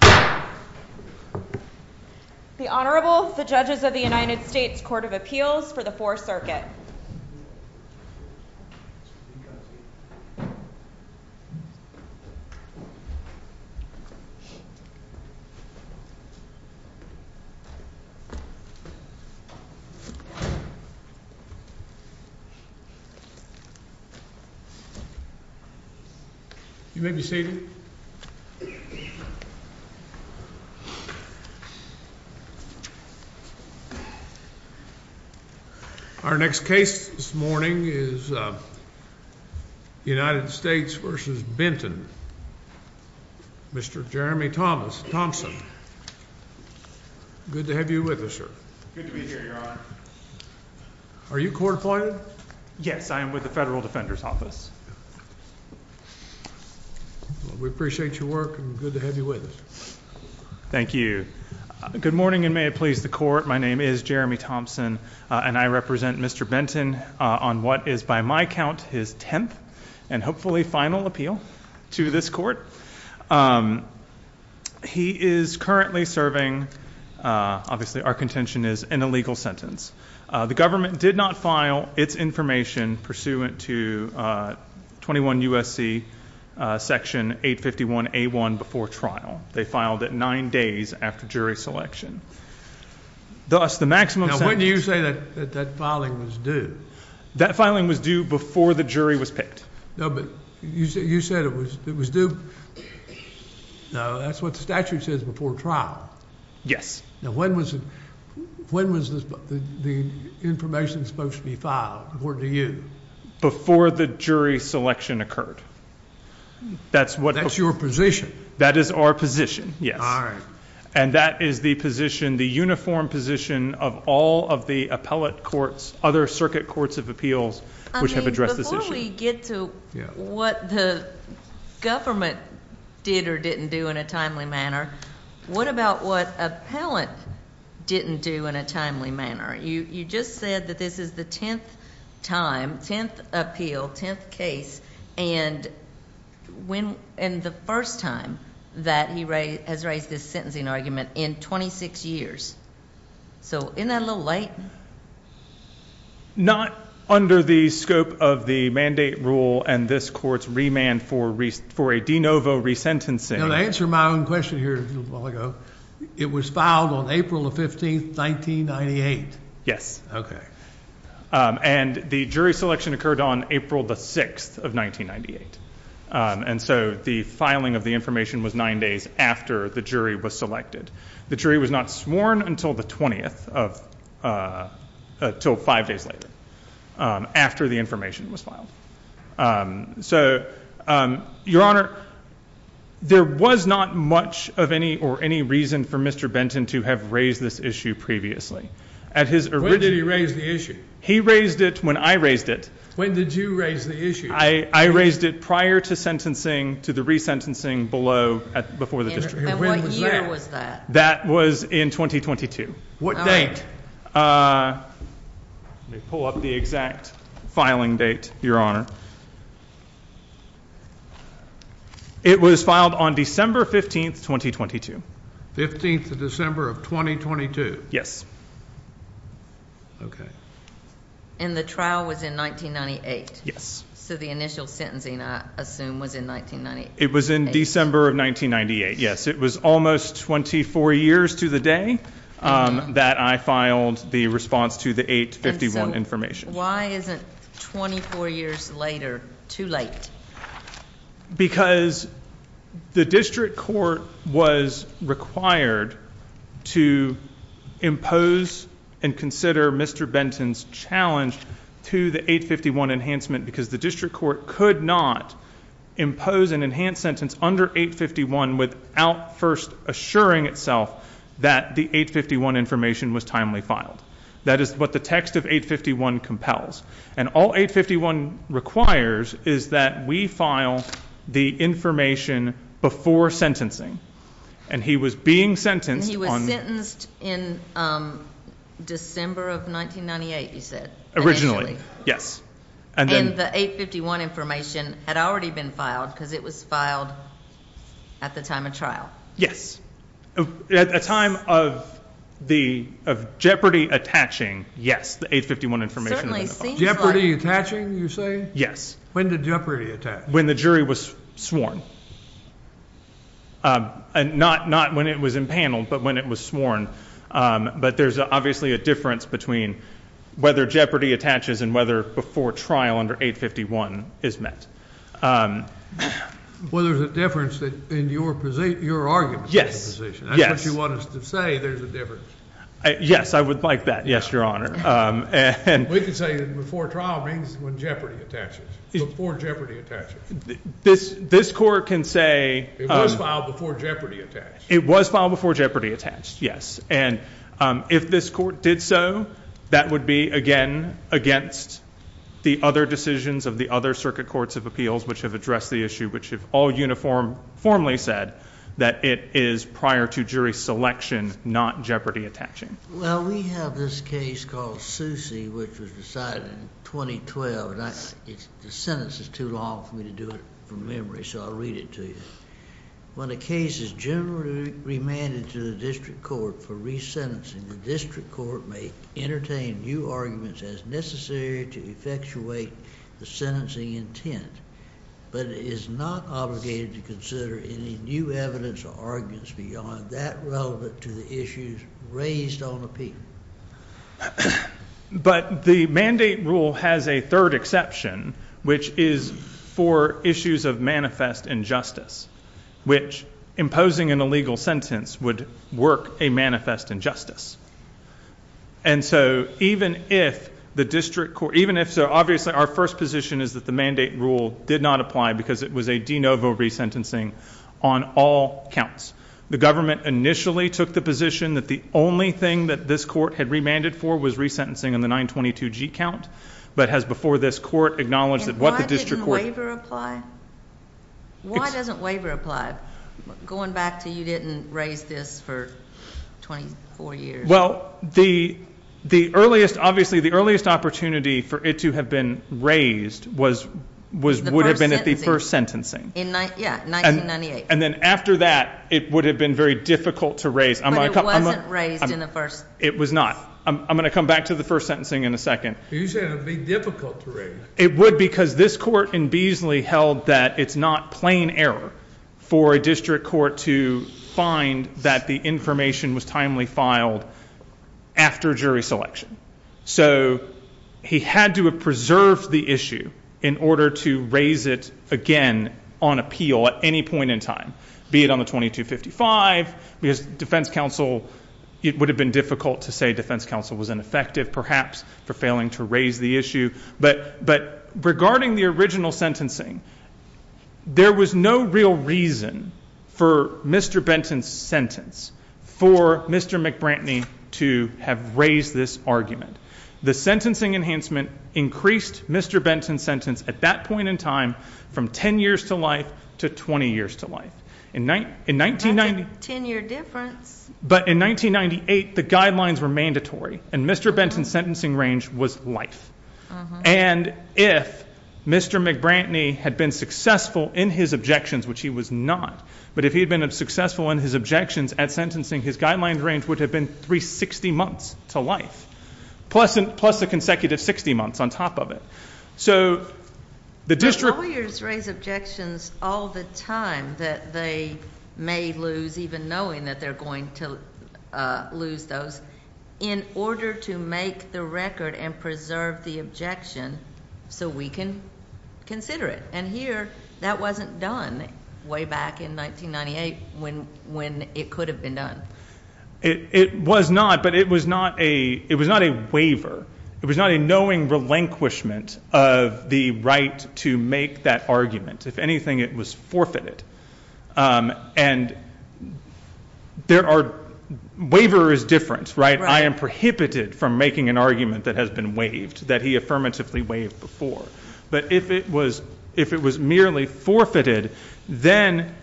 The Honorable, the Judges of the United States Court of Appeals for the Fourth Circuit. You may be seated. Our next case this morning is United States v. Benton, Mr. Jeremy Thomson. Good to have you with us, sir. Good to be here, Your Honor. Are you court-appointed? Yes, I am with the Federal Defender's Office. We appreciate your work, and good to have you with us. Thank you. Good morning, and may it please the Court, my name is Jeremy Thomson, and I represent Mr. Benton on what is by my count his tenth and hopefully final appeal to this Court. He is currently serving, obviously our contention is, an illegal sentence. The government did not file its information pursuant to 21 U.S.C. Section 851A1 before trial. They filed it nine days after jury selection. Now, when do you say that filing was due? That filing was due before the jury was picked. No, but you said it was due, that's what the statute says, before trial. Yes. Now, when was the information supposed to be filed, according to you? Before the jury selection occurred. That's your position? That is our position, yes. All right. And that is the position, the uniform position, of all of the appellate courts, other circuit courts of appeals, which have addressed this issue. Before we get to what the government did or didn't do in a timely manner, what about what appellate didn't do in a timely manner? You just said that this is the tenth time, tenth appeal, tenth case, and the first time that he has raised this sentencing argument in 26 years. So, isn't that a little late? Not under the scope of the mandate rule and this court's remand for a de novo resentencing. Now, to answer my own question here a little while ago, it was filed on April the 15th, 1998. Yes. Okay. And the jury selection occurred on April the 6th of 1998. And so the filing of the information was nine days after the jury was selected. The jury was not sworn until the 20th of, until five days later, after the information was filed. So, Your Honor, there was not much of any or any reason for Mr. Benton to have raised this issue previously. When did he raise the issue? He raised it when I raised it. When did you raise the issue? I raised it prior to sentencing to the resentencing below, before the district. And what year was that? That was in 2022. What date? Let me pull up the exact filing date, Your Honor. It was filed on December 15th, 2022. 15th of December of 2022? Yes. Okay. And the trial was in 1998? Yes. So the initial sentencing, I assume, was in 1998? It was in December of 1998. Yes, it was almost 24 years to the day that I filed the response to the 851 information. And so why isn't 24 years later too late? Because the district court was required to impose and consider Mr. Benton's challenge to the 851 enhancement. Because the district court could not impose an enhanced sentence under 851 without first assuring itself that the 851 information was timely filed. That is what the text of 851 compels. And all 851 requires is that we file the information before sentencing. And he was being sentenced on... And he was sentenced in December of 1998, you said, initially? Initially, yes. And the 851 information had already been filed because it was filed at the time of trial? At the time of the jeopardy attaching, yes, the 851 information had been filed. Jeopardy attaching, you're saying? Yes. When did jeopardy attach? When the jury was sworn. Not when it was impaneled, but when it was sworn. But there's obviously a difference between whether jeopardy attaches and whether before trial under 851 is met. Well, there's a difference in your argument. Yes, yes. That's what you want us to say, there's a difference. Yes, I would like that, yes, Your Honor. We can say that before trial means when jeopardy attaches. Before jeopardy attaches. This court can say... It was filed before jeopardy attached. It was filed before jeopardy attached, yes. And if this court did so, that would be, again, against the other decisions of the other circuit courts of appeals, which have addressed the issue, which have all uniformly said that it is prior to jury selection, not jeopardy attaching. Well, we have this case called Soucy, which was decided in 2012. The sentence is too long for me to do it from memory, so I'll read it to you. When a case is generally remanded to the district court for resentencing, the district court may entertain new arguments as necessary to effectuate the sentencing intent, but is not obligated to consider any new evidence or arguments beyond that relevant to the issues raised on appeal. But the mandate rule has a third exception, which is for issues of manifest injustice, which imposing an illegal sentence would work a manifest injustice. And so even if the district court... Even if... so obviously our first position is that the mandate rule did not apply because it was a de novo resentencing on all counts. The government initially took the position that the only thing that this court had remanded for was resentencing on the 922G count, but has before this court acknowledged that what the district court... And why didn't the waiver apply? Why doesn't waiver apply? Going back to you didn't raise this for 24 years. Well, the earliest... obviously the earliest opportunity for it to have been raised was... The first sentencing... would have been at the first sentencing. Yeah, 1998. And then after that it would have been very difficult to raise. But it wasn't raised in the first... It was not. I'm going to come back to the first sentencing in a second. You said it would be difficult to raise. It would because this court in Beasley held that it's not plain error for a district court to find that the information was timely filed after jury selection. So, he had to have preserved the issue in order to raise it again on appeal at any point in time. Be it on the 2255 because defense counsel... It would have been difficult to say defense counsel was ineffective perhaps for failing to raise the issue. But, regarding the original sentencing, there was no real reason for Mr. Benton's sentence for Mr. McBranty to have raised this argument. The sentencing enhancement increased Mr. Benton's sentence at that point in time from 10 years to life to 20 years to life. That's a 10 year difference. But, in 1998, the guidelines were mandatory. And Mr. Benton's sentencing range was life. And, if Mr. McBranty had been successful in his objections, which he was not, but if he had been successful in his objections at sentencing, his guideline range would have been 360 months to life. Plus a consecutive 60 months on top of it. So, the district... Lawyers raise objections all the time that they may lose, even knowing that they're going to lose those, in order to make the record and preserve the objection so we can consider it. And here, that wasn't done way back in 1998 when it could have been done. It was not, but it was not a waiver. It was not a knowing relinquishment of the right to make that argument. If anything, it was forfeited. And, there are... Waiver is different, right? I am prohibited from making an argument that has been waived, that he affirmatively waived before. But, if it was merely forfeited, then,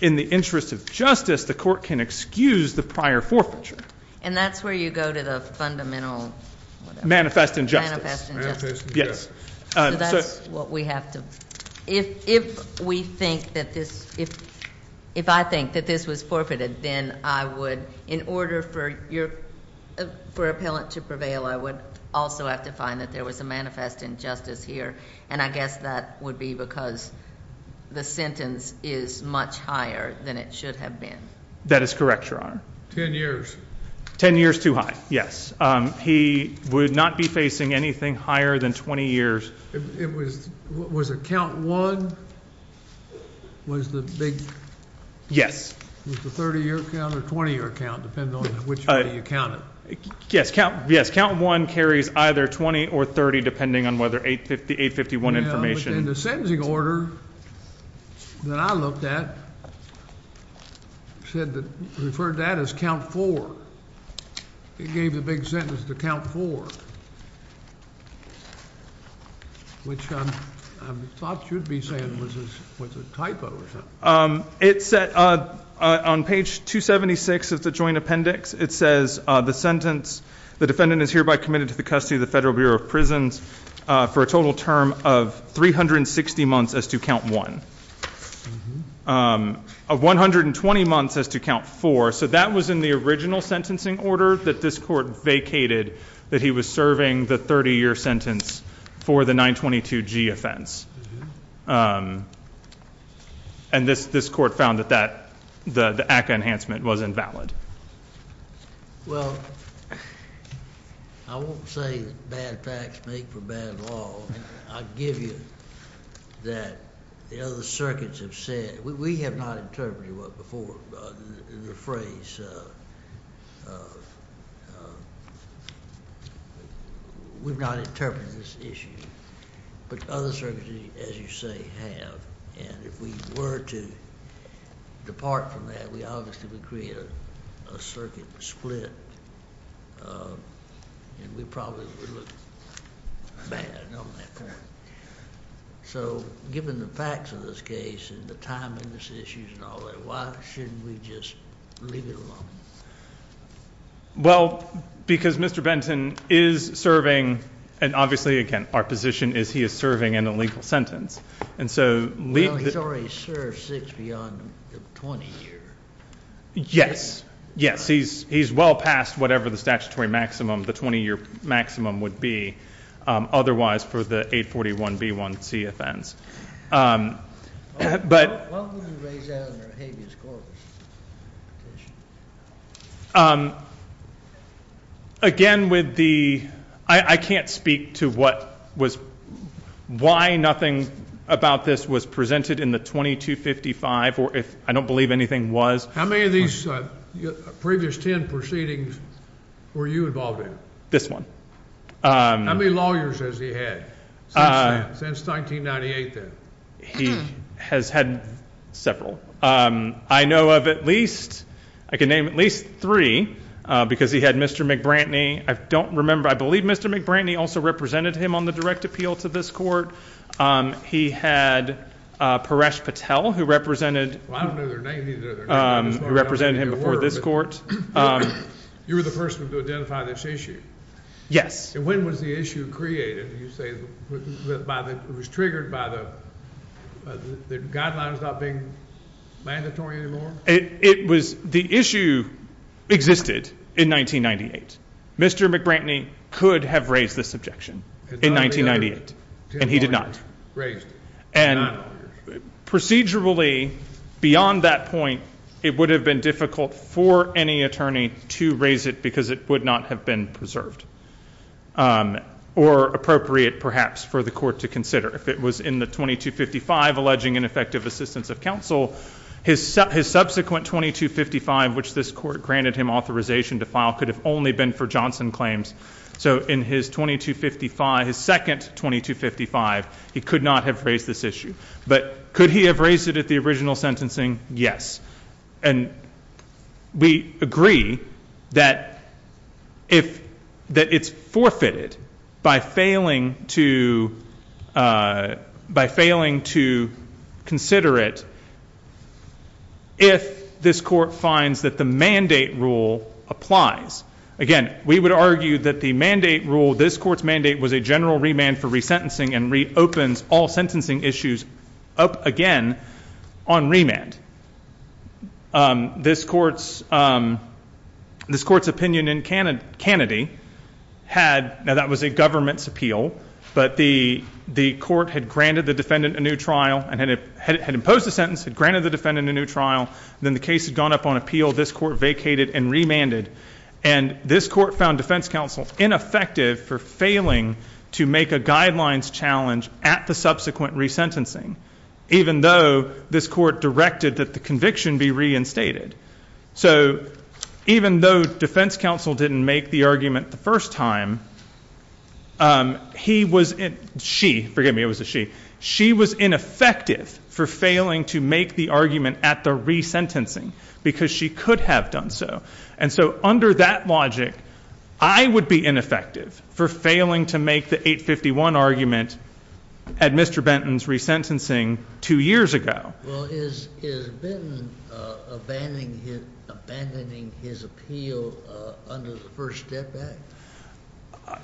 in the interest of justice, the court can excuse the prior forfeiture. And, that's where you go to the fundamental... Manifest injustice. Manifest injustice. Yes. So, that's what we have to... If we think that this... If I think that this was forfeited, then I would, in order for your... For appellant to prevail, I would also have to find that there was a manifest injustice here. And, I guess that would be because the sentence is much higher than it should have been. That is correct, Your Honor. Ten years. Ten years too high. He would not be facing anything higher than 20 years. It was... Was it count one? Was the big... Yes. Was the 30-year count or 20-year count, depending on which way you count it? Yes. Count one carries either 20 or 30, depending on whether 851 information... And, the sentencing order that I looked at said that... referred to that as count four. It gave the big sentence to count four, which I thought you'd be saying was a typo or something. It said... On page 276 of the joint appendix, it says, The defendant is hereby committed to the custody of the Federal Bureau of Prisons for a total term of 360 months as to count one. Of 120 months as to count four. So, that was in the original sentencing order that this court vacated that he was serving the 30-year sentence for the 922G offense. And, this court found that the ACCA enhancement was invalid. Well, I won't say that bad facts make for bad law. I'll give you that the other circuits have said... We have not interpreted what... before. The phrase... We've not interpreted this issue. But, other circuits, as you say, have. And, if we were to depart from that, we obviously would create a circuit split. And, we probably would look bad on that. So, given the facts of this case and the timeliness issues and all that, why shouldn't we just leave it alone? Well, because Mr. Benton is serving... And, obviously, again, our position is he is serving an illegal sentence. And, so... Well, he's already served six beyond the 20-year. Yes. Yes. He's well past whatever the statutory maximum, the 20-year maximum would be. Otherwise, for the 841B1C offense. Why would we raise that under a habeas corpus petition? How many of these previous ten proceedings were you involved in? This one. How many lawyers has he had? Since 1998, then? He has had several. I know of at least... I can name at least three. Because, he had Mr. McBranty. I don't remember. I believe Mr. McBranty also represented him on the direct appeal to this court. He had Paresh Patel, who represented... Well, I don't know their names either. Who represented him before this court. You were the first one to identify this issue. Yes. When was the issue created, you say, by the... It was triggered by the guidelines not being mandatory anymore? It was... The issue existed in 1998. Mr. McBranty could have raised this objection in 1998. And he did not. And procedurally, beyond that point, it would have been difficult for any attorney to raise it because it would not have been preserved. Or appropriate, perhaps, for the court to consider. If it was in the 2255, alleging ineffective assistance of counsel, his subsequent 2255, which this court granted him authorization to file, could have only been for Johnson claims. So, in his 2255, his second 2255, he could not have raised this issue. But, could he have raised it at the original sentencing? Yes. And we agree that it's forfeited by failing to consider it if this court finds that the mandate rule applies. Again, we would argue that the mandate rule, this court's mandate, was a general remand for resentencing and reopens all sentencing issues up again on remand. This court's opinion in Kennedy had... Now, that was a government's appeal, but the court had granted the defendant a new trial and had imposed a sentence, had granted the defendant a new trial. Then the case had gone up on appeal. This court vacated and remanded. And this court found defense counsel ineffective for failing to make a guidelines challenge at the subsequent resentencing, even though this court directed that the conviction be reinstated. So, even though defense counsel didn't make the argument the first time, he was... she... forgive me, it was a she... she was ineffective for failing to make the argument at the resentencing because she could have done so. And so, under that logic, I would be ineffective for failing to make the 851 argument at Mr. Benton's resentencing two years ago. Well, is Benton abandoning his appeal under the First Step Act?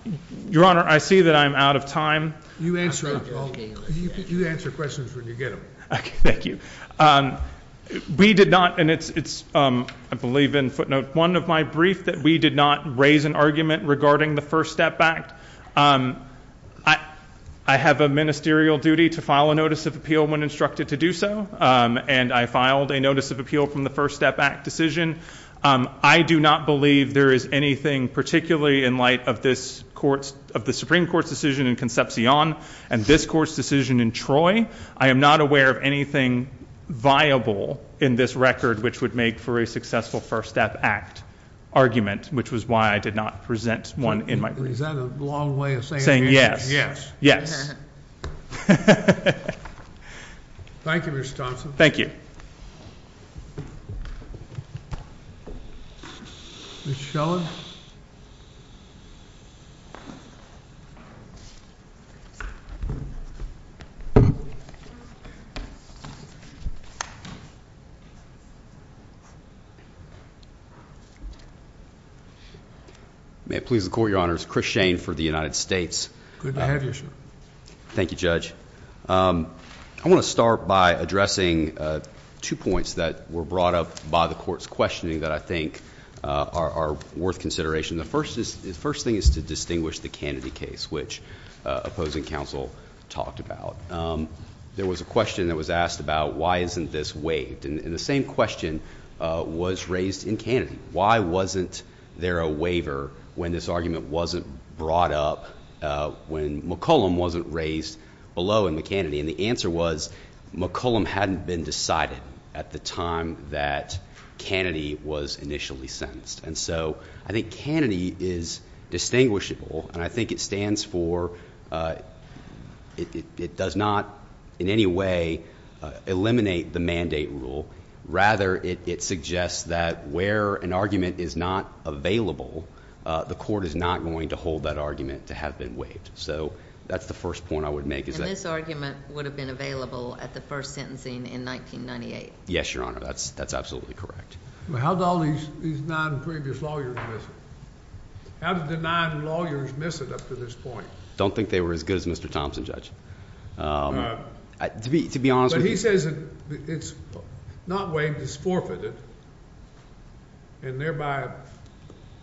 Your Honor, I see that I'm out of time. You answer questions when you get them. Thank you. We did not... and it's... I believe in footnote one of my brief that we did not raise an argument regarding the First Step Act. I have a ministerial duty to file a notice of appeal when instructed to do so, and I filed a notice of appeal from the First Step Act decision. I do not believe there is anything particularly in light of this Supreme Court's decision in Concepcion and this Court's decision in Troy. I am not aware of anything viable in this record which would make for a successful First Step Act argument, which was why I did not present one in my brief. Is that a long way of saying... Saying yes. Yes. Yes. Thank you, Mr. Thompson. Thank you. Mr. Shelley. May it please the Court, Your Honors. Chris Shane for the United States. Good to have you, sir. Thank you, Judge. I want to start by addressing two points that were brought up by the Court's questioning that I think are worth consideration. The first thing is to distinguish the Kennedy case, which opposing counsel talked about. There was a question that was asked about why isn't this waived? And the same question was raised in Kennedy. Why wasn't there a waiver when this argument wasn't brought up, when McCollum wasn't raised below in McCannedy? And the answer was McCollum hadn't been decided at the time that Kennedy was initially sentenced. And so I think Kennedy is distinguishable. And I think it stands for... it does not in any way eliminate the mandate rule. Rather, it suggests that where an argument is not available, the Court is not going to hold that argument to have been waived. So that's the first point I would make is that... And this argument would have been available at the first sentencing in 1998. Yes, Your Honor. That's absolutely correct. How did all these nine previous lawyers miss it? How did the nine lawyers miss it up to this point? I don't think they were as good as Mr. Thompson, Judge. To be honest... But he says it's not waived, it's forfeited, and thereby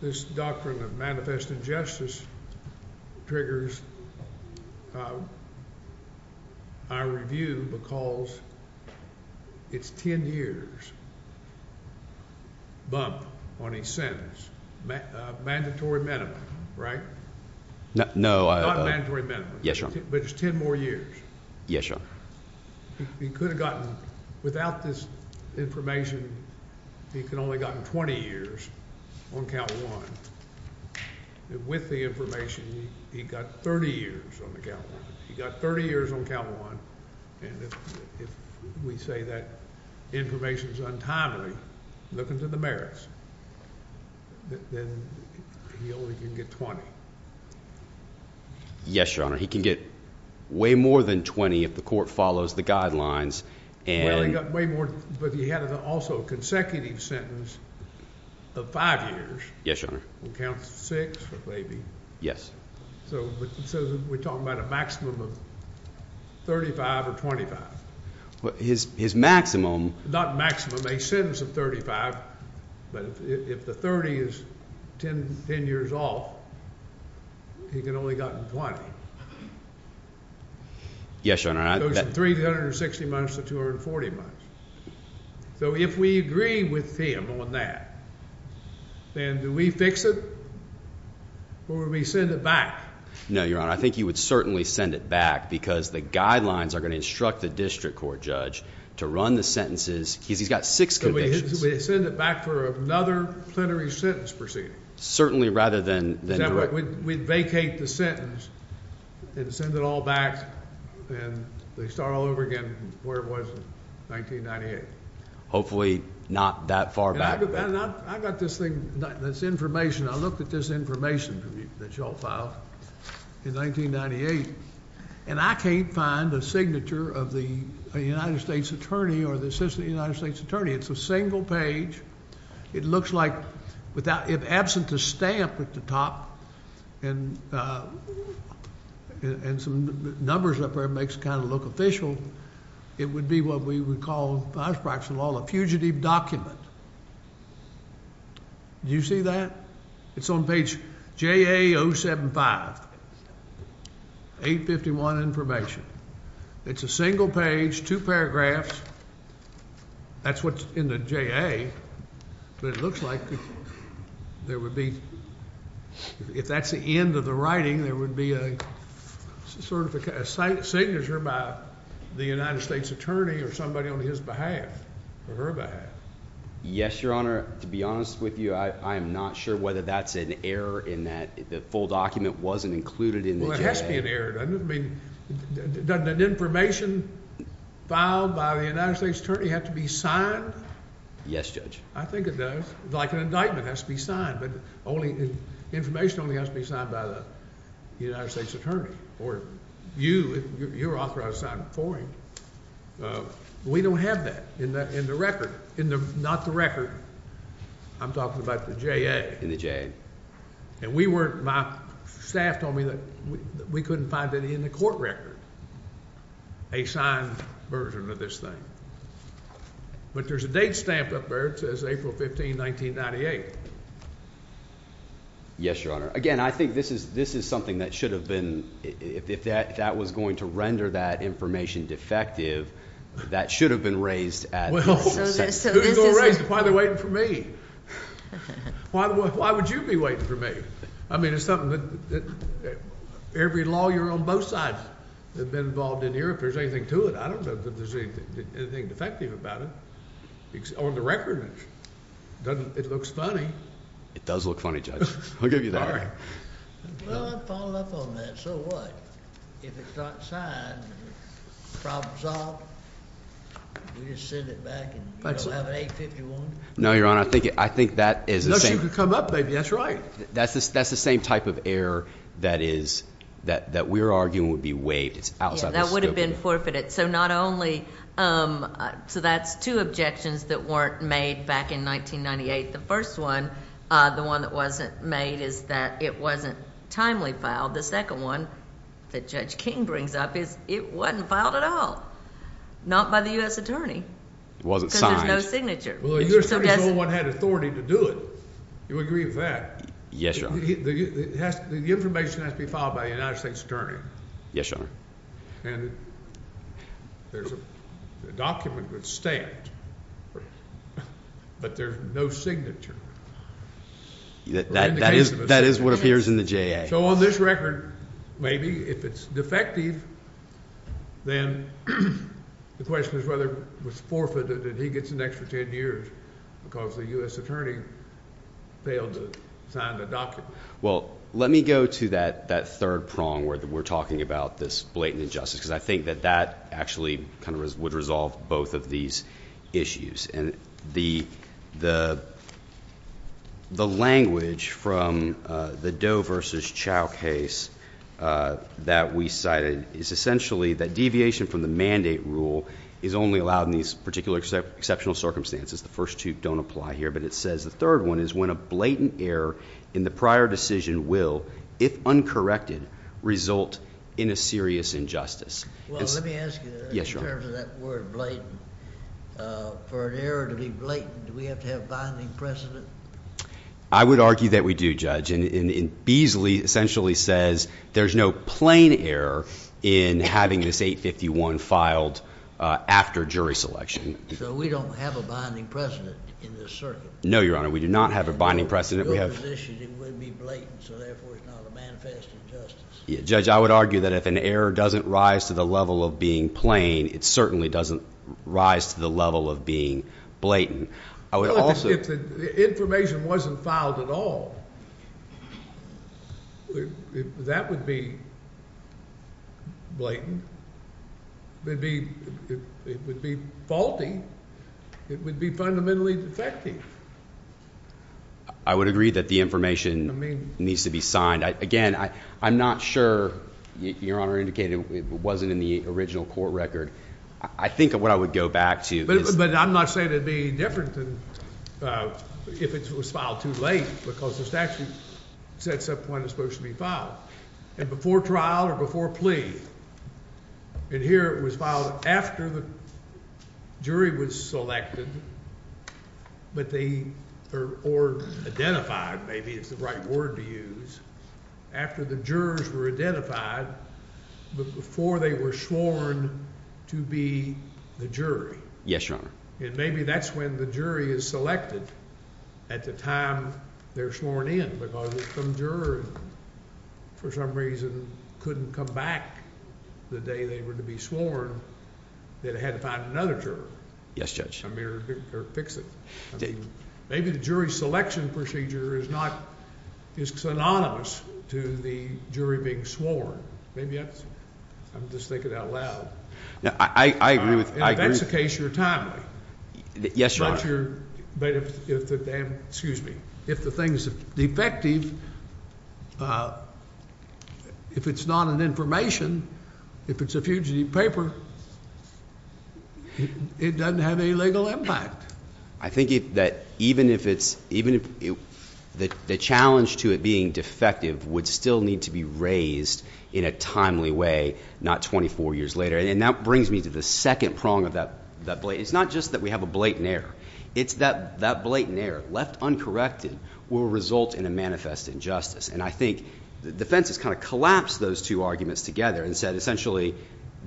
this doctrine of manifest injustice triggers our review because it's 10 years bump on each sentence. Mandatory minimum, right? No. Not mandatory minimum. Yes, Your Honor. But it's 10 more years. Yes, Your Honor. He could have gotten... without this information, he could have only gotten 20 years on count one. And with the information, he got 30 years on the count one. He got 30 years on count one. And if we say that information is untimely, look into the merits, then he only can get 20. Yes, Your Honor. He can get way more than 20 if the court follows the guidelines and... Well, he got way more, but he had also a consecutive sentence of five years. Yes, Your Honor. On count six or maybe. Yes. So we're talking about a maximum of 35 or 25. His maximum... He can only gotten 20. Yes, Your Honor. It goes from 360 months to 240 months. So if we agree with him on that, then do we fix it or do we send it back? No, Your Honor. I think you would certainly send it back because the guidelines are going to instruct the district court judge to run the sentences. He's got six convictions. So we send it back for another plenary sentence proceeding? Certainly, rather than... We vacate the sentence and send it all back, and they start all over again where it was in 1998. Hopefully not that far back. I got this thing, this information. I looked at this information that you all filed in 1998, and I can't find a signature of the United States Attorney or the Assistant United States Attorney. It's a single page. It looks like, if absent the stamp at the top and some numbers up there makes it kind of look official, it would be what we would call, by practice of law, a fugitive document. Do you see that? It's on page JA 075. 851 information. It's a single page, two paragraphs. That's what's in the JA, but it looks like there would be, if that's the end of the writing, there would be a signature by the United States Attorney or somebody on his behalf or her behalf. Yes, Your Honor. To be honest with you, I am not sure whether that's an error in that the full document wasn't included in the JA. I mean, doesn't an information filed by the United States Attorney have to be signed? Yes, Judge. I think it does. Like an indictment has to be signed, but information only has to be signed by the United States Attorney. Or you, if you're authorized to sign it for him. We don't have that in the record. Not the record. I'm talking about the JA. In the JA. And we weren't, my staff told me that we couldn't find it in the court record. A signed version of this thing. But there's a date stamped up there. It says April 15, 1998. Yes, Your Honor. Again, I think this is something that should have been, if that was going to render that information defective, that should have been raised at the court. Who's going to raise it? Why are they waiting for me? Why would you be waiting for me? I mean, it's something that every lawyer on both sides has been involved in here. If there's anything to it, I don't know that there's anything defective about it. On the record, it looks funny. It does look funny, Judge. I'll give you that. Well, I've followed up on that. So what? If it's not signed, the problem's solved. We just send it back. You don't have an 851? No, Your Honor. I think that is the same. No, she could come up, maybe. That's right. That's the same type of error that we're arguing would be waived. It's outside the scope of the court. Yeah, that would have been forfeited. So that's two objections that weren't made back in 1998. The first one, the one that wasn't made, is that it wasn't timely filed. The second one that Judge King brings up is it wasn't filed at all. Not by the U.S. attorney. It wasn't signed. No signature. Well, if there's someone who had authority to do it, you agree with that? Yes, Your Honor. The information has to be filed by the United States attorney. Yes, Your Honor. And there's a document that's stamped, but there's no signature. That is what appears in the JA. So on this record, maybe, if it's defective, then the question is whether it was forfeited and he gets the next 10 years because the U.S. attorney failed to sign the document. Well, let me go to that third prong where we're talking about this blatant injustice because I think that that actually would resolve both of these issues. And the language from the Doe versus Chau case that we cited is essentially that deviation from the mandate rule is only allowed in these particular exceptional circumstances. The first two don't apply here, but it says the third one is when a blatant error in the prior decision will, if uncorrected, result in a serious injustice. Well, let me ask you, in terms of that word blatant, for an error to be blatant, do we have to have binding precedent? I would argue that we do, Judge. And Beasley essentially says there's no plain error in having this 851 filed after jury selection. So we don't have a binding precedent in this circuit? No, Your Honor, we do not have a binding precedent. Your position would be blatant, so therefore it's not a manifest injustice. Judge, I would argue that if an error doesn't rise to the level of being plain, it certainly doesn't rise to the level of being blatant. Well, if the information wasn't filed at all, that would be blatant. It would be faulty. It would be fundamentally defective. I would agree that the information needs to be signed. Again, I'm not sure, Your Honor indicated it wasn't in the original court record. I think what I would go back to is that. But I'm not saying it would be any different than if it was filed too late because the statute sets up when it's supposed to be filed. And before trial or before plea, and here it was filed after the jury was selected or identified, maybe is the right word to use, after the jurors were identified before they were sworn to be the jury. Yes, Your Honor. And maybe that's when the jury is selected at the time they're sworn in because if some juror for some reason couldn't come back the day they were to be sworn, they'd have to find another juror. Yes, Judge. I mean, or fix it. Maybe the jury selection procedure is synonymous to the jury being sworn. Maybe that's it. I'm just thinking out loud. I agree with you. If that's the case, you're timely. Yes, Your Honor. But if the thing is defective, if it's not an information, if it's a fugitive paper, it doesn't have any legal impact. I think that even if it's, even if the challenge to it being defective would still need to be raised in a timely way, not 24 years later. And that brings me to the second prong of that. It's not just that we have a blatant error. It's that that blatant error left uncorrected will result in a manifest injustice. And I think the defense has kind of collapsed those two arguments together and said essentially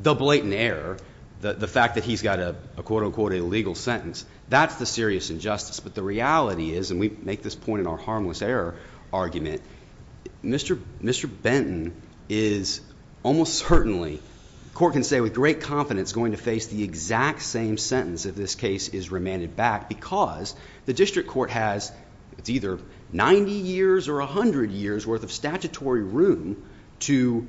the blatant error, the fact that he's got a quote-unquote illegal sentence, that's the serious injustice. But the reality is, and we make this point in our harmless error argument, Mr. Benton is almost certainly, the court can say with great confidence, going to face the exact same sentence if this case is remanded back because the district court has, it's either 90 years or 100 years worth of statutory room to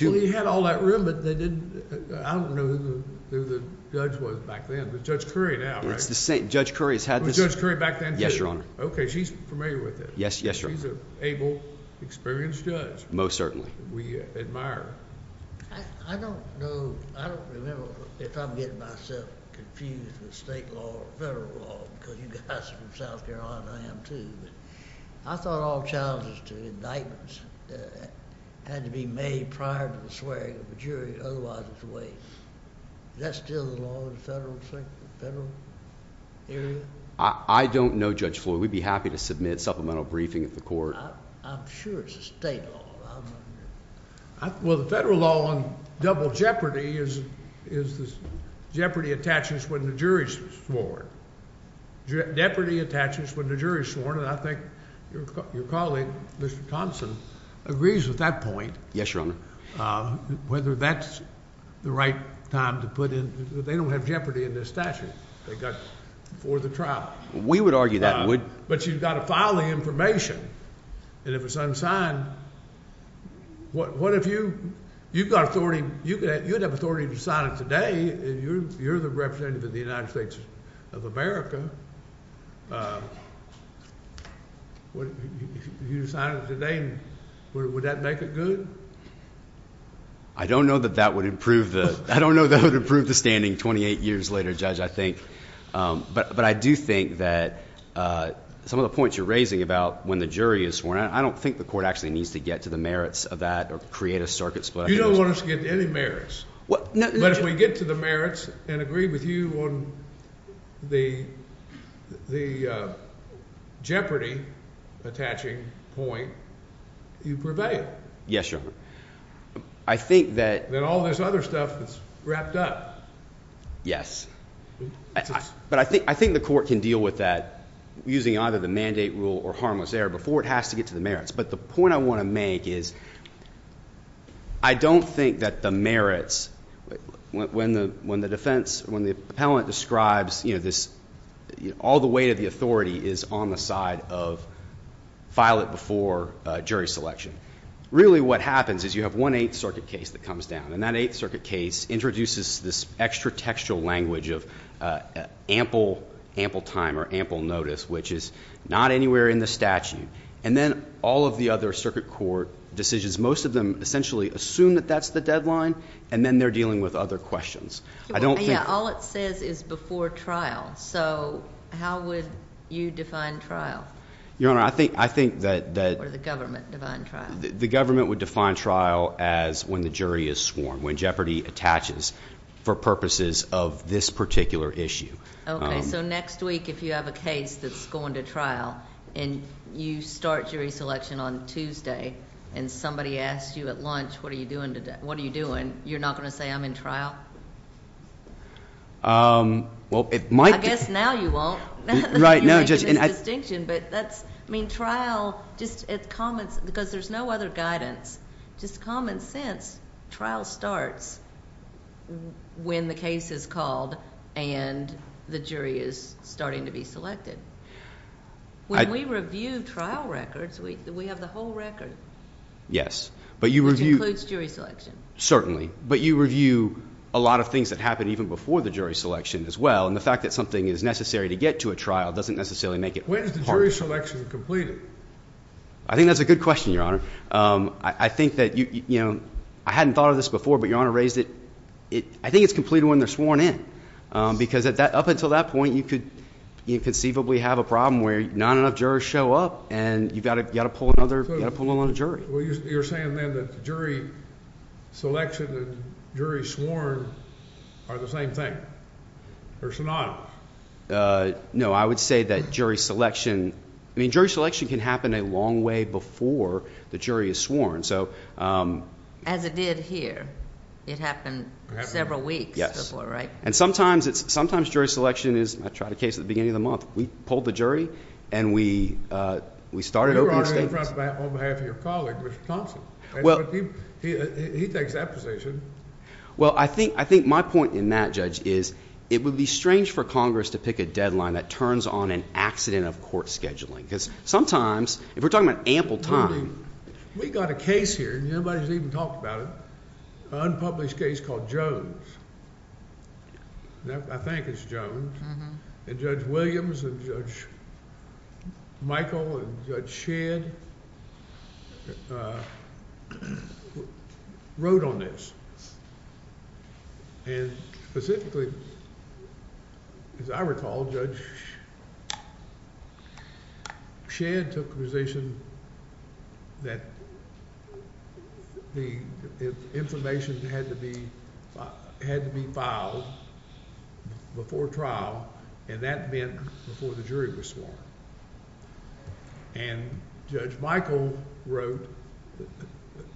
Well, he had all that room, but they didn't, I don't know who the judge was back then, but Judge Currie now, right? It's the same, Judge Currie has had this Was Judge Currie back then, too? Yes, Your Honor. Okay, she's familiar with it. Yes, yes, Your Honor. She's an able, experienced judge. Most certainly. We admire her. I don't know, I don't remember if I'm getting myself confused with state law or federal law because you guys are from South Carolina and I am too, but I thought all challenges to indictments had to be made prior to the swearing of the jury, otherwise it's a waste. Is that still the law in the federal area? I don't know, Judge Floyd. We'd be happy to submit supplemental briefing at the court. I'm sure it's the state law. Well, the federal law on double jeopardy is this jeopardy attaches when the jury's sworn. Jeopardy attaches when the jury's sworn, and I think your colleague, Mr. Thompson, agrees with that point. Yes, Your Honor. Whether that's the right time to put in, they don't have jeopardy in this statute. They got it before the trial. We would argue that would. But you've got to file the information, and if it's unsigned, what if you've got authority, you'd have authority to sign it today, and you're the representative of the United States of America. If you sign it today, would that make it good? I don't know that that would improve the standing 28 years later, Judge, I think. But I do think that some of the points you're raising about when the jury is sworn, I don't think the court actually needs to get to the merits of that or create a circuit split. You don't want us to get to any merits. But if we get to the merits and agree with you on the jeopardy attaching point, you prevail. Yes, Your Honor. I think that all this other stuff is wrapped up. Yes. But I think the court can deal with that using either the mandate rule or harmless error before it has to get to the merits. But the point I want to make is I don't think that the merits, when the defense, when the appellant describes, you know, all the weight of the authority is on the side of file it before jury selection. Really what happens is you have one Eighth Circuit case that comes down, and that Eighth Circuit case introduces this extra textual language of ample time or ample notice, which is not anywhere in the statute. And then all of the other circuit court decisions, most of them essentially assume that that's the deadline, and then they're dealing with other questions. Yeah, all it says is before trial. So how would you define trial? Your Honor, I think that the government would define trial as when the jury is sworn. When jeopardy attaches for purposes of this particular issue. So next week if you have a case that's going to trial and you start jury selection on Tuesday and somebody asks you at lunch, what are you doing today? What are you doing? You're not going to say I'm in trial? Well, it might. I guess now you won't. Right. No, Judge. I mean, trial, because there's no other guidance, just common sense, trial starts when the case is called and the jury is starting to be selected. When we review trial records, we have the whole record. Yes. Which includes jury selection. Certainly. But you review a lot of things that happened even before the jury selection as well, and the fact that something is necessary to get to a trial doesn't necessarily make it hard. When is the jury selection completed? I think that's a good question, Your Honor. I think that, you know, I hadn't thought of this before, but Your Honor raised it. I think it's completed when they're sworn in, because up until that point you could conceivably have a problem where not enough jurors show up and you've got to pull another jury. Well, you're saying then that jury selection and jury sworn are the same thing, or synonymous? No, I would say that jury selection can happen a long way before the jury is sworn. As it did here. It happened several weeks before, right? And sometimes jury selection is, I tried a case at the beginning of the month, we pulled the jury and we started opening statements. On behalf of your colleague, Mr. Thompson. He takes that position. Well, I think my point in that, Judge, is it would be strange for Congress to pick a deadline that turns on an accident of court scheduling. Because sometimes, if we're talking about ample time. We got a case here, and nobody's even talked about it, an unpublished case called Jones. I think it's Jones. And Judge Williams and Judge Michael and Judge Shedd wrote on this. And specifically, as I recall, Judge Shedd took the position that the information had to be filed before trial, and that meant before the jury was sworn. And Judge Michael wrote,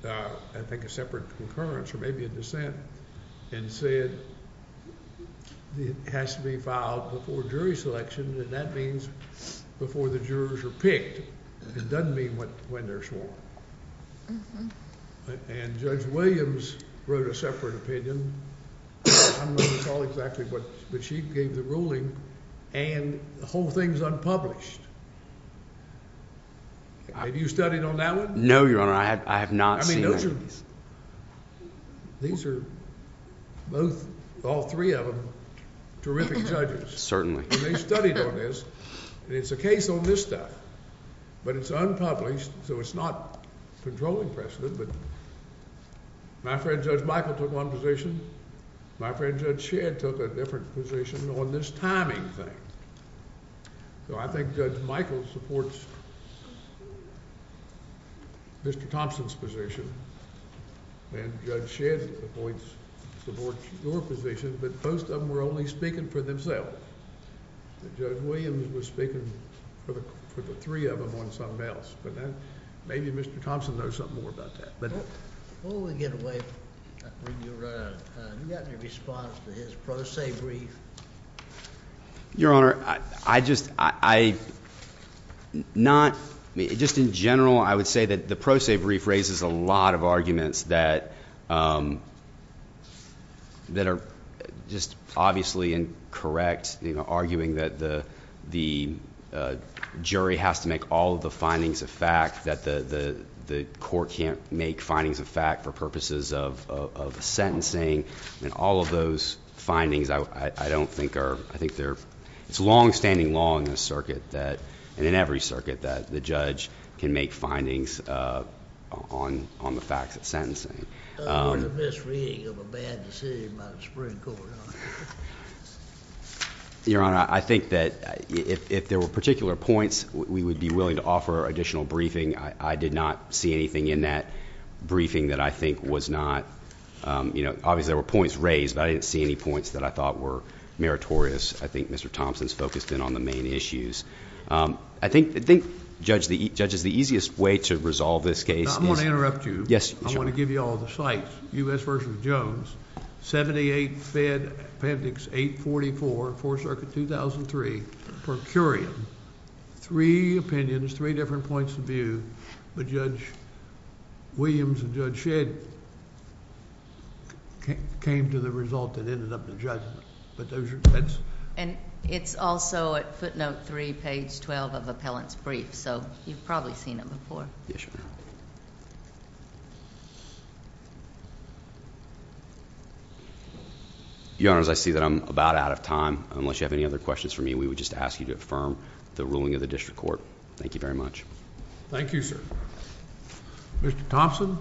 I think a separate concurrence or maybe a dissent, and said it has to be filed before jury selection, and that means before the jurors are picked. It doesn't mean when they're sworn. And Judge Williams wrote a separate opinion. I don't recall exactly what, but she gave the ruling, and the whole thing's unpublished. Have you studied on that one? No, Your Honor, I have not seen that. I mean, those are, these are both, all three of them, terrific judges. Certainly. And they studied on this, and it's a case on this stuff. But it's unpublished, so it's not controlling precedent. But my friend Judge Michael took one position. My friend Judge Shedd took a different position on this timing thing. So I think Judge Michael supports Mr. Thompson's position, and Judge Shedd supports your position, but both of them were only speaking for themselves. Judge Williams was speaking for the three of them on something else. But maybe Mr. Thompson knows something more about that. Before we get away, I'll bring you around. Have you got any response to his pro se brief? Your Honor, I just, I, not, just in general, I would say that the pro se brief raises a lot of arguments that, that are just obviously incorrect, arguing that the jury has to make all of the findings of fact, that the court can't make findings of fact for purposes of sentencing. And all of those findings, I don't think are, I think they're, it's a longstanding law in this circuit that, and in every circuit, that the judge can make findings on, on the facts of sentencing. Your Honor, I think that if, if there were particular points we would be willing to offer additional briefing, I did not see anything in that briefing that I think was not, you know, obviously there were points raised, but I didn't see any points that I thought were meritorious. I think Mr. Thompson's focused in on the main issues. I think, I think, Judge, the easiest way to resolve this case is... I'm going to interrupt you. Yes, Your Honor. I want to give you all the sites. U.S. v. Jones, 78 Fed Appendix 844, Fourth Circuit, 2003, per curiam. Three opinions, three different points of view. But Judge Williams and Judge Shedd came to the result that ended up in judgment. And it's also at footnote 3, page 12 of appellant's brief. So, you've probably seen it before. Yes, Your Honor. Your Honor, as I see that I'm about out of time, unless you have any other questions for me, we would just ask you to affirm the ruling of the district court. Thank you very much. Thank you, sir. Mr. Thompson.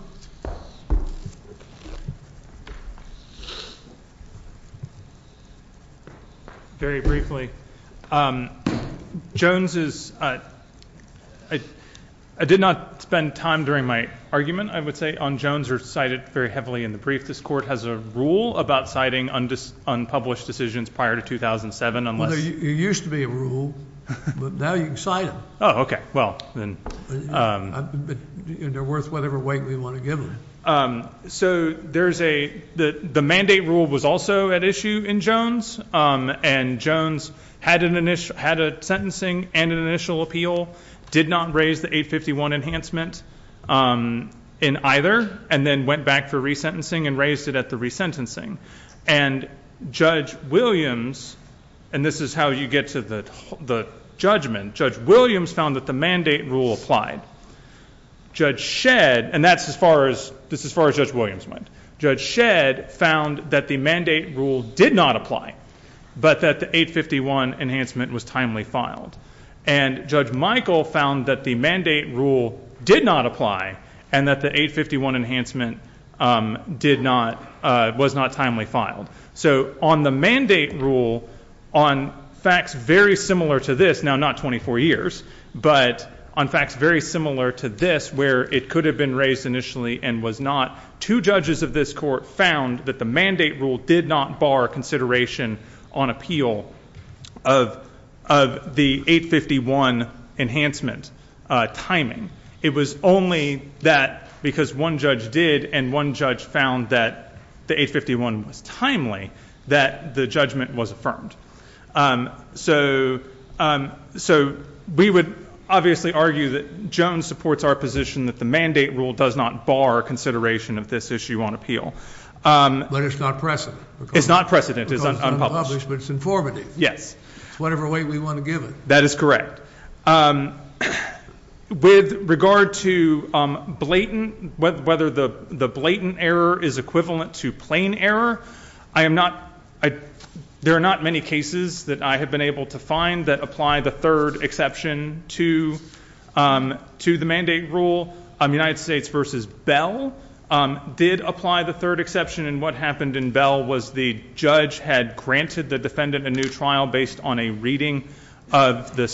Very briefly. Jones is... I did not spend time during my argument, I would say, on Jones, or cite it very heavily in the brief. This court has a rule about citing unpublished decisions prior to 2007 unless... Well, there used to be a rule, but now you can cite them. Oh, okay. Well, then... They're worth whatever weight we want to give them. So, there's a... The mandate rule was also at issue in Jones, and Jones had a sentencing and an initial appeal, did not raise the 851 enhancement in either, and then went back for resentencing and raised it at the resentencing. And Judge Williams... And this is how you get to the judgment. Judge Williams found that the mandate rule applied. Judge Shedd... And that's as far as... This is as far as Judge Williams went. Judge Shedd found that the mandate rule did not apply, but that the 851 enhancement was timely filed. And Judge Michael found that the mandate rule did not apply, and that the 851 enhancement did not... was not timely filed. So, on the mandate rule, on facts very similar to this, now not 24 years, but on facts very similar to this, where it could have been raised initially and was not, two judges of this court found that the mandate rule did not bar consideration on appeal of the 851 enhancement timing. It was only that because one judge did, and one judge found that the 851 was timely, that the judgment was affirmed. So, we would obviously argue that Jones supports our position that the mandate rule does not bar consideration of this issue on appeal. But it's not precedent. It's not precedent. It's unpublished. It's unpublished, but it's informative. Yes. It's whatever way we want to give it. That is correct. With regard to blatant... whether the blatant error is equivalent to plain error, I am not... there are not many cases that I have been able to find that apply the third exception to the mandate rule. United States v. Bell did apply the third exception, and what happened in Bell was the judge had granted the defendant a new trial based on a reading of the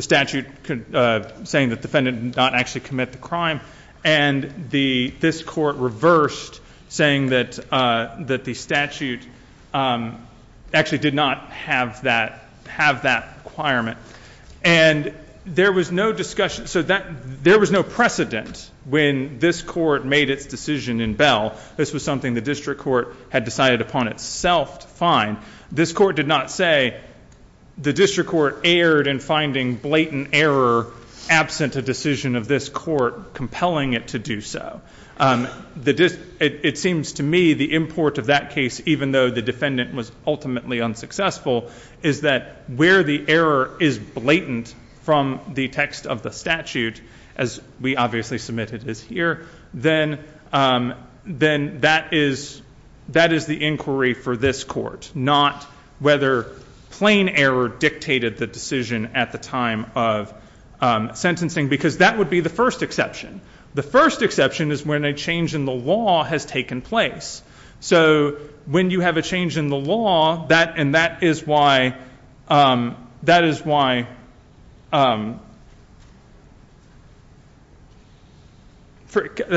statute saying the defendant did not actually commit the crime, and this court reversed saying that the statute actually did not have that requirement. And there was no discussion. So, there was no precedent when this court made its decision in Bell. This was something the district court had decided upon itself to find. This court did not say the district court erred in finding blatant error absent a decision of this court compelling it to do so. It seems to me the import of that case, even though the defendant was ultimately unsuccessful, is that where the error is blatant from the text of the statute, as we obviously submitted as here, then that is the inquiry for this court, not whether plain error dictated the decision at the time of sentencing, because that would be the first exception. The first exception is when a change in the law has taken place. So, when you have a change in the law, and that is why... that is why...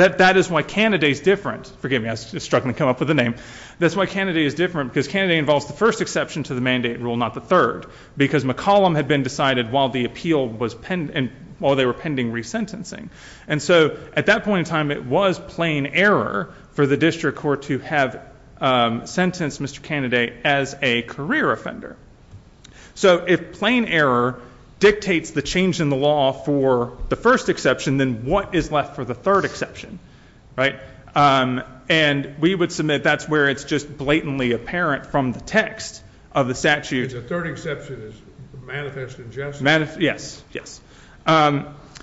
that is why Kennedy is different. Forgive me, I was struggling to come up with a name. That is why Kennedy is different, because Kennedy involves the first exception to the mandate rule, not the third, because McCollum had been decided while the appeal was pending... while they were pending resentencing. And so, at that point in time, it was plain error for the district court to have sentenced Mr. Kennedy as a career offender. So, if plain error dictates the change in the law for the first exception, then what is left for the third exception? Right? And, we would submit that is where it is just blatantly apparent from the text of the statute... The third exception is manifest injustice. Manifest... yes, yes. One...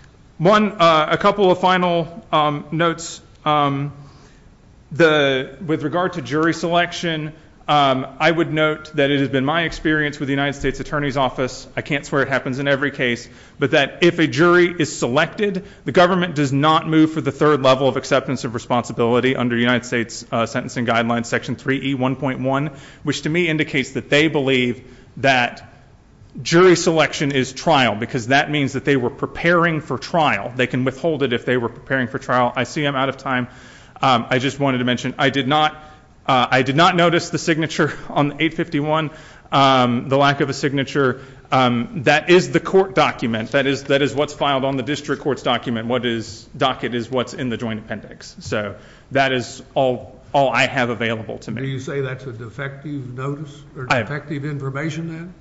a couple of final notes. The... with regard to jury selection, I would note that it has been my experience with the United States Attorney's Office... I cannot swear it happens in every case, but that if a jury is selected, the government does not move for the third level of acceptance of responsibility under United States Sentencing Guidelines, Section 3E1.1, which to me indicates that they believe that jury selection is trial, because that means that they were preparing for trial. They can withhold it if they were preparing for trial. I see I'm out of time. I just wanted to mention, I did not... I did not notice the signature on 851, the lack of a signature. That is the court document. That is what's filed on the district court's document. What is docket is what's in the joint appendix. So, that is all I have available to me. Do you say that's a defective notice or defective information then?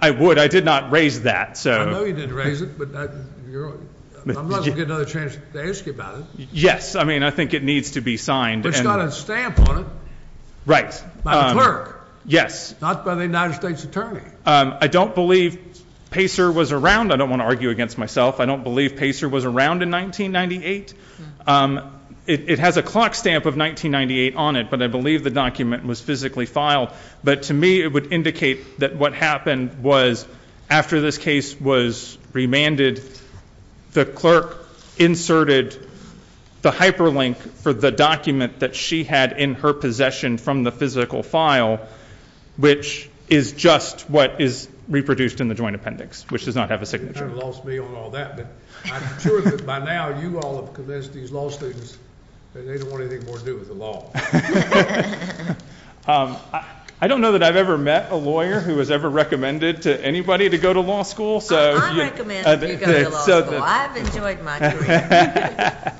I would. I did not raise that, so... I know you didn't raise it, but I'm not going to get another chance to ask you about it. Yes. I mean, I think it needs to be signed. It's got a stamp on it. Right. By the clerk. Yes. Not by the United States Attorney. I don't believe Pacer was around. I don't want to argue against myself. I don't believe Pacer was around in 1998. It has a clock stamp of 1998 on it, but I believe the document was physically filed. But, to me, it would indicate that what happened was, after this case was remanded, the clerk inserted the hyperlink for the document that she had in her possession from the physical file, which is just what is reproduced in the joint appendix, which does not have a signature. You kind of lost me on all that, but I'm sure that, by now, you all have convinced these law students that they don't want anything more to do with the law. I don't know that I've ever met a lawyer who has ever recommended to anybody to go to law school. I'm recommending that you go to law school. I've enjoyed my career.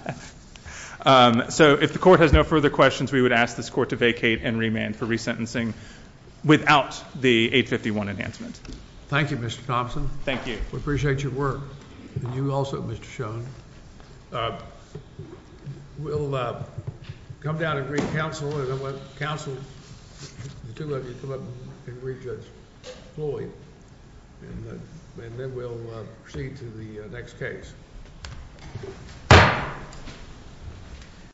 So, if the court has no further questions, we would ask this court to vacate and remand for resentencing without the 851 enhancement. Thank you, Mr. Thompson. Thank you. We appreciate your work. And you also, Mr. Schoen. We'll come down and greet counsel, and I want counsel, the two of you, to come up and greet Judge Floyd. And then we'll proceed to the next case. Thank you.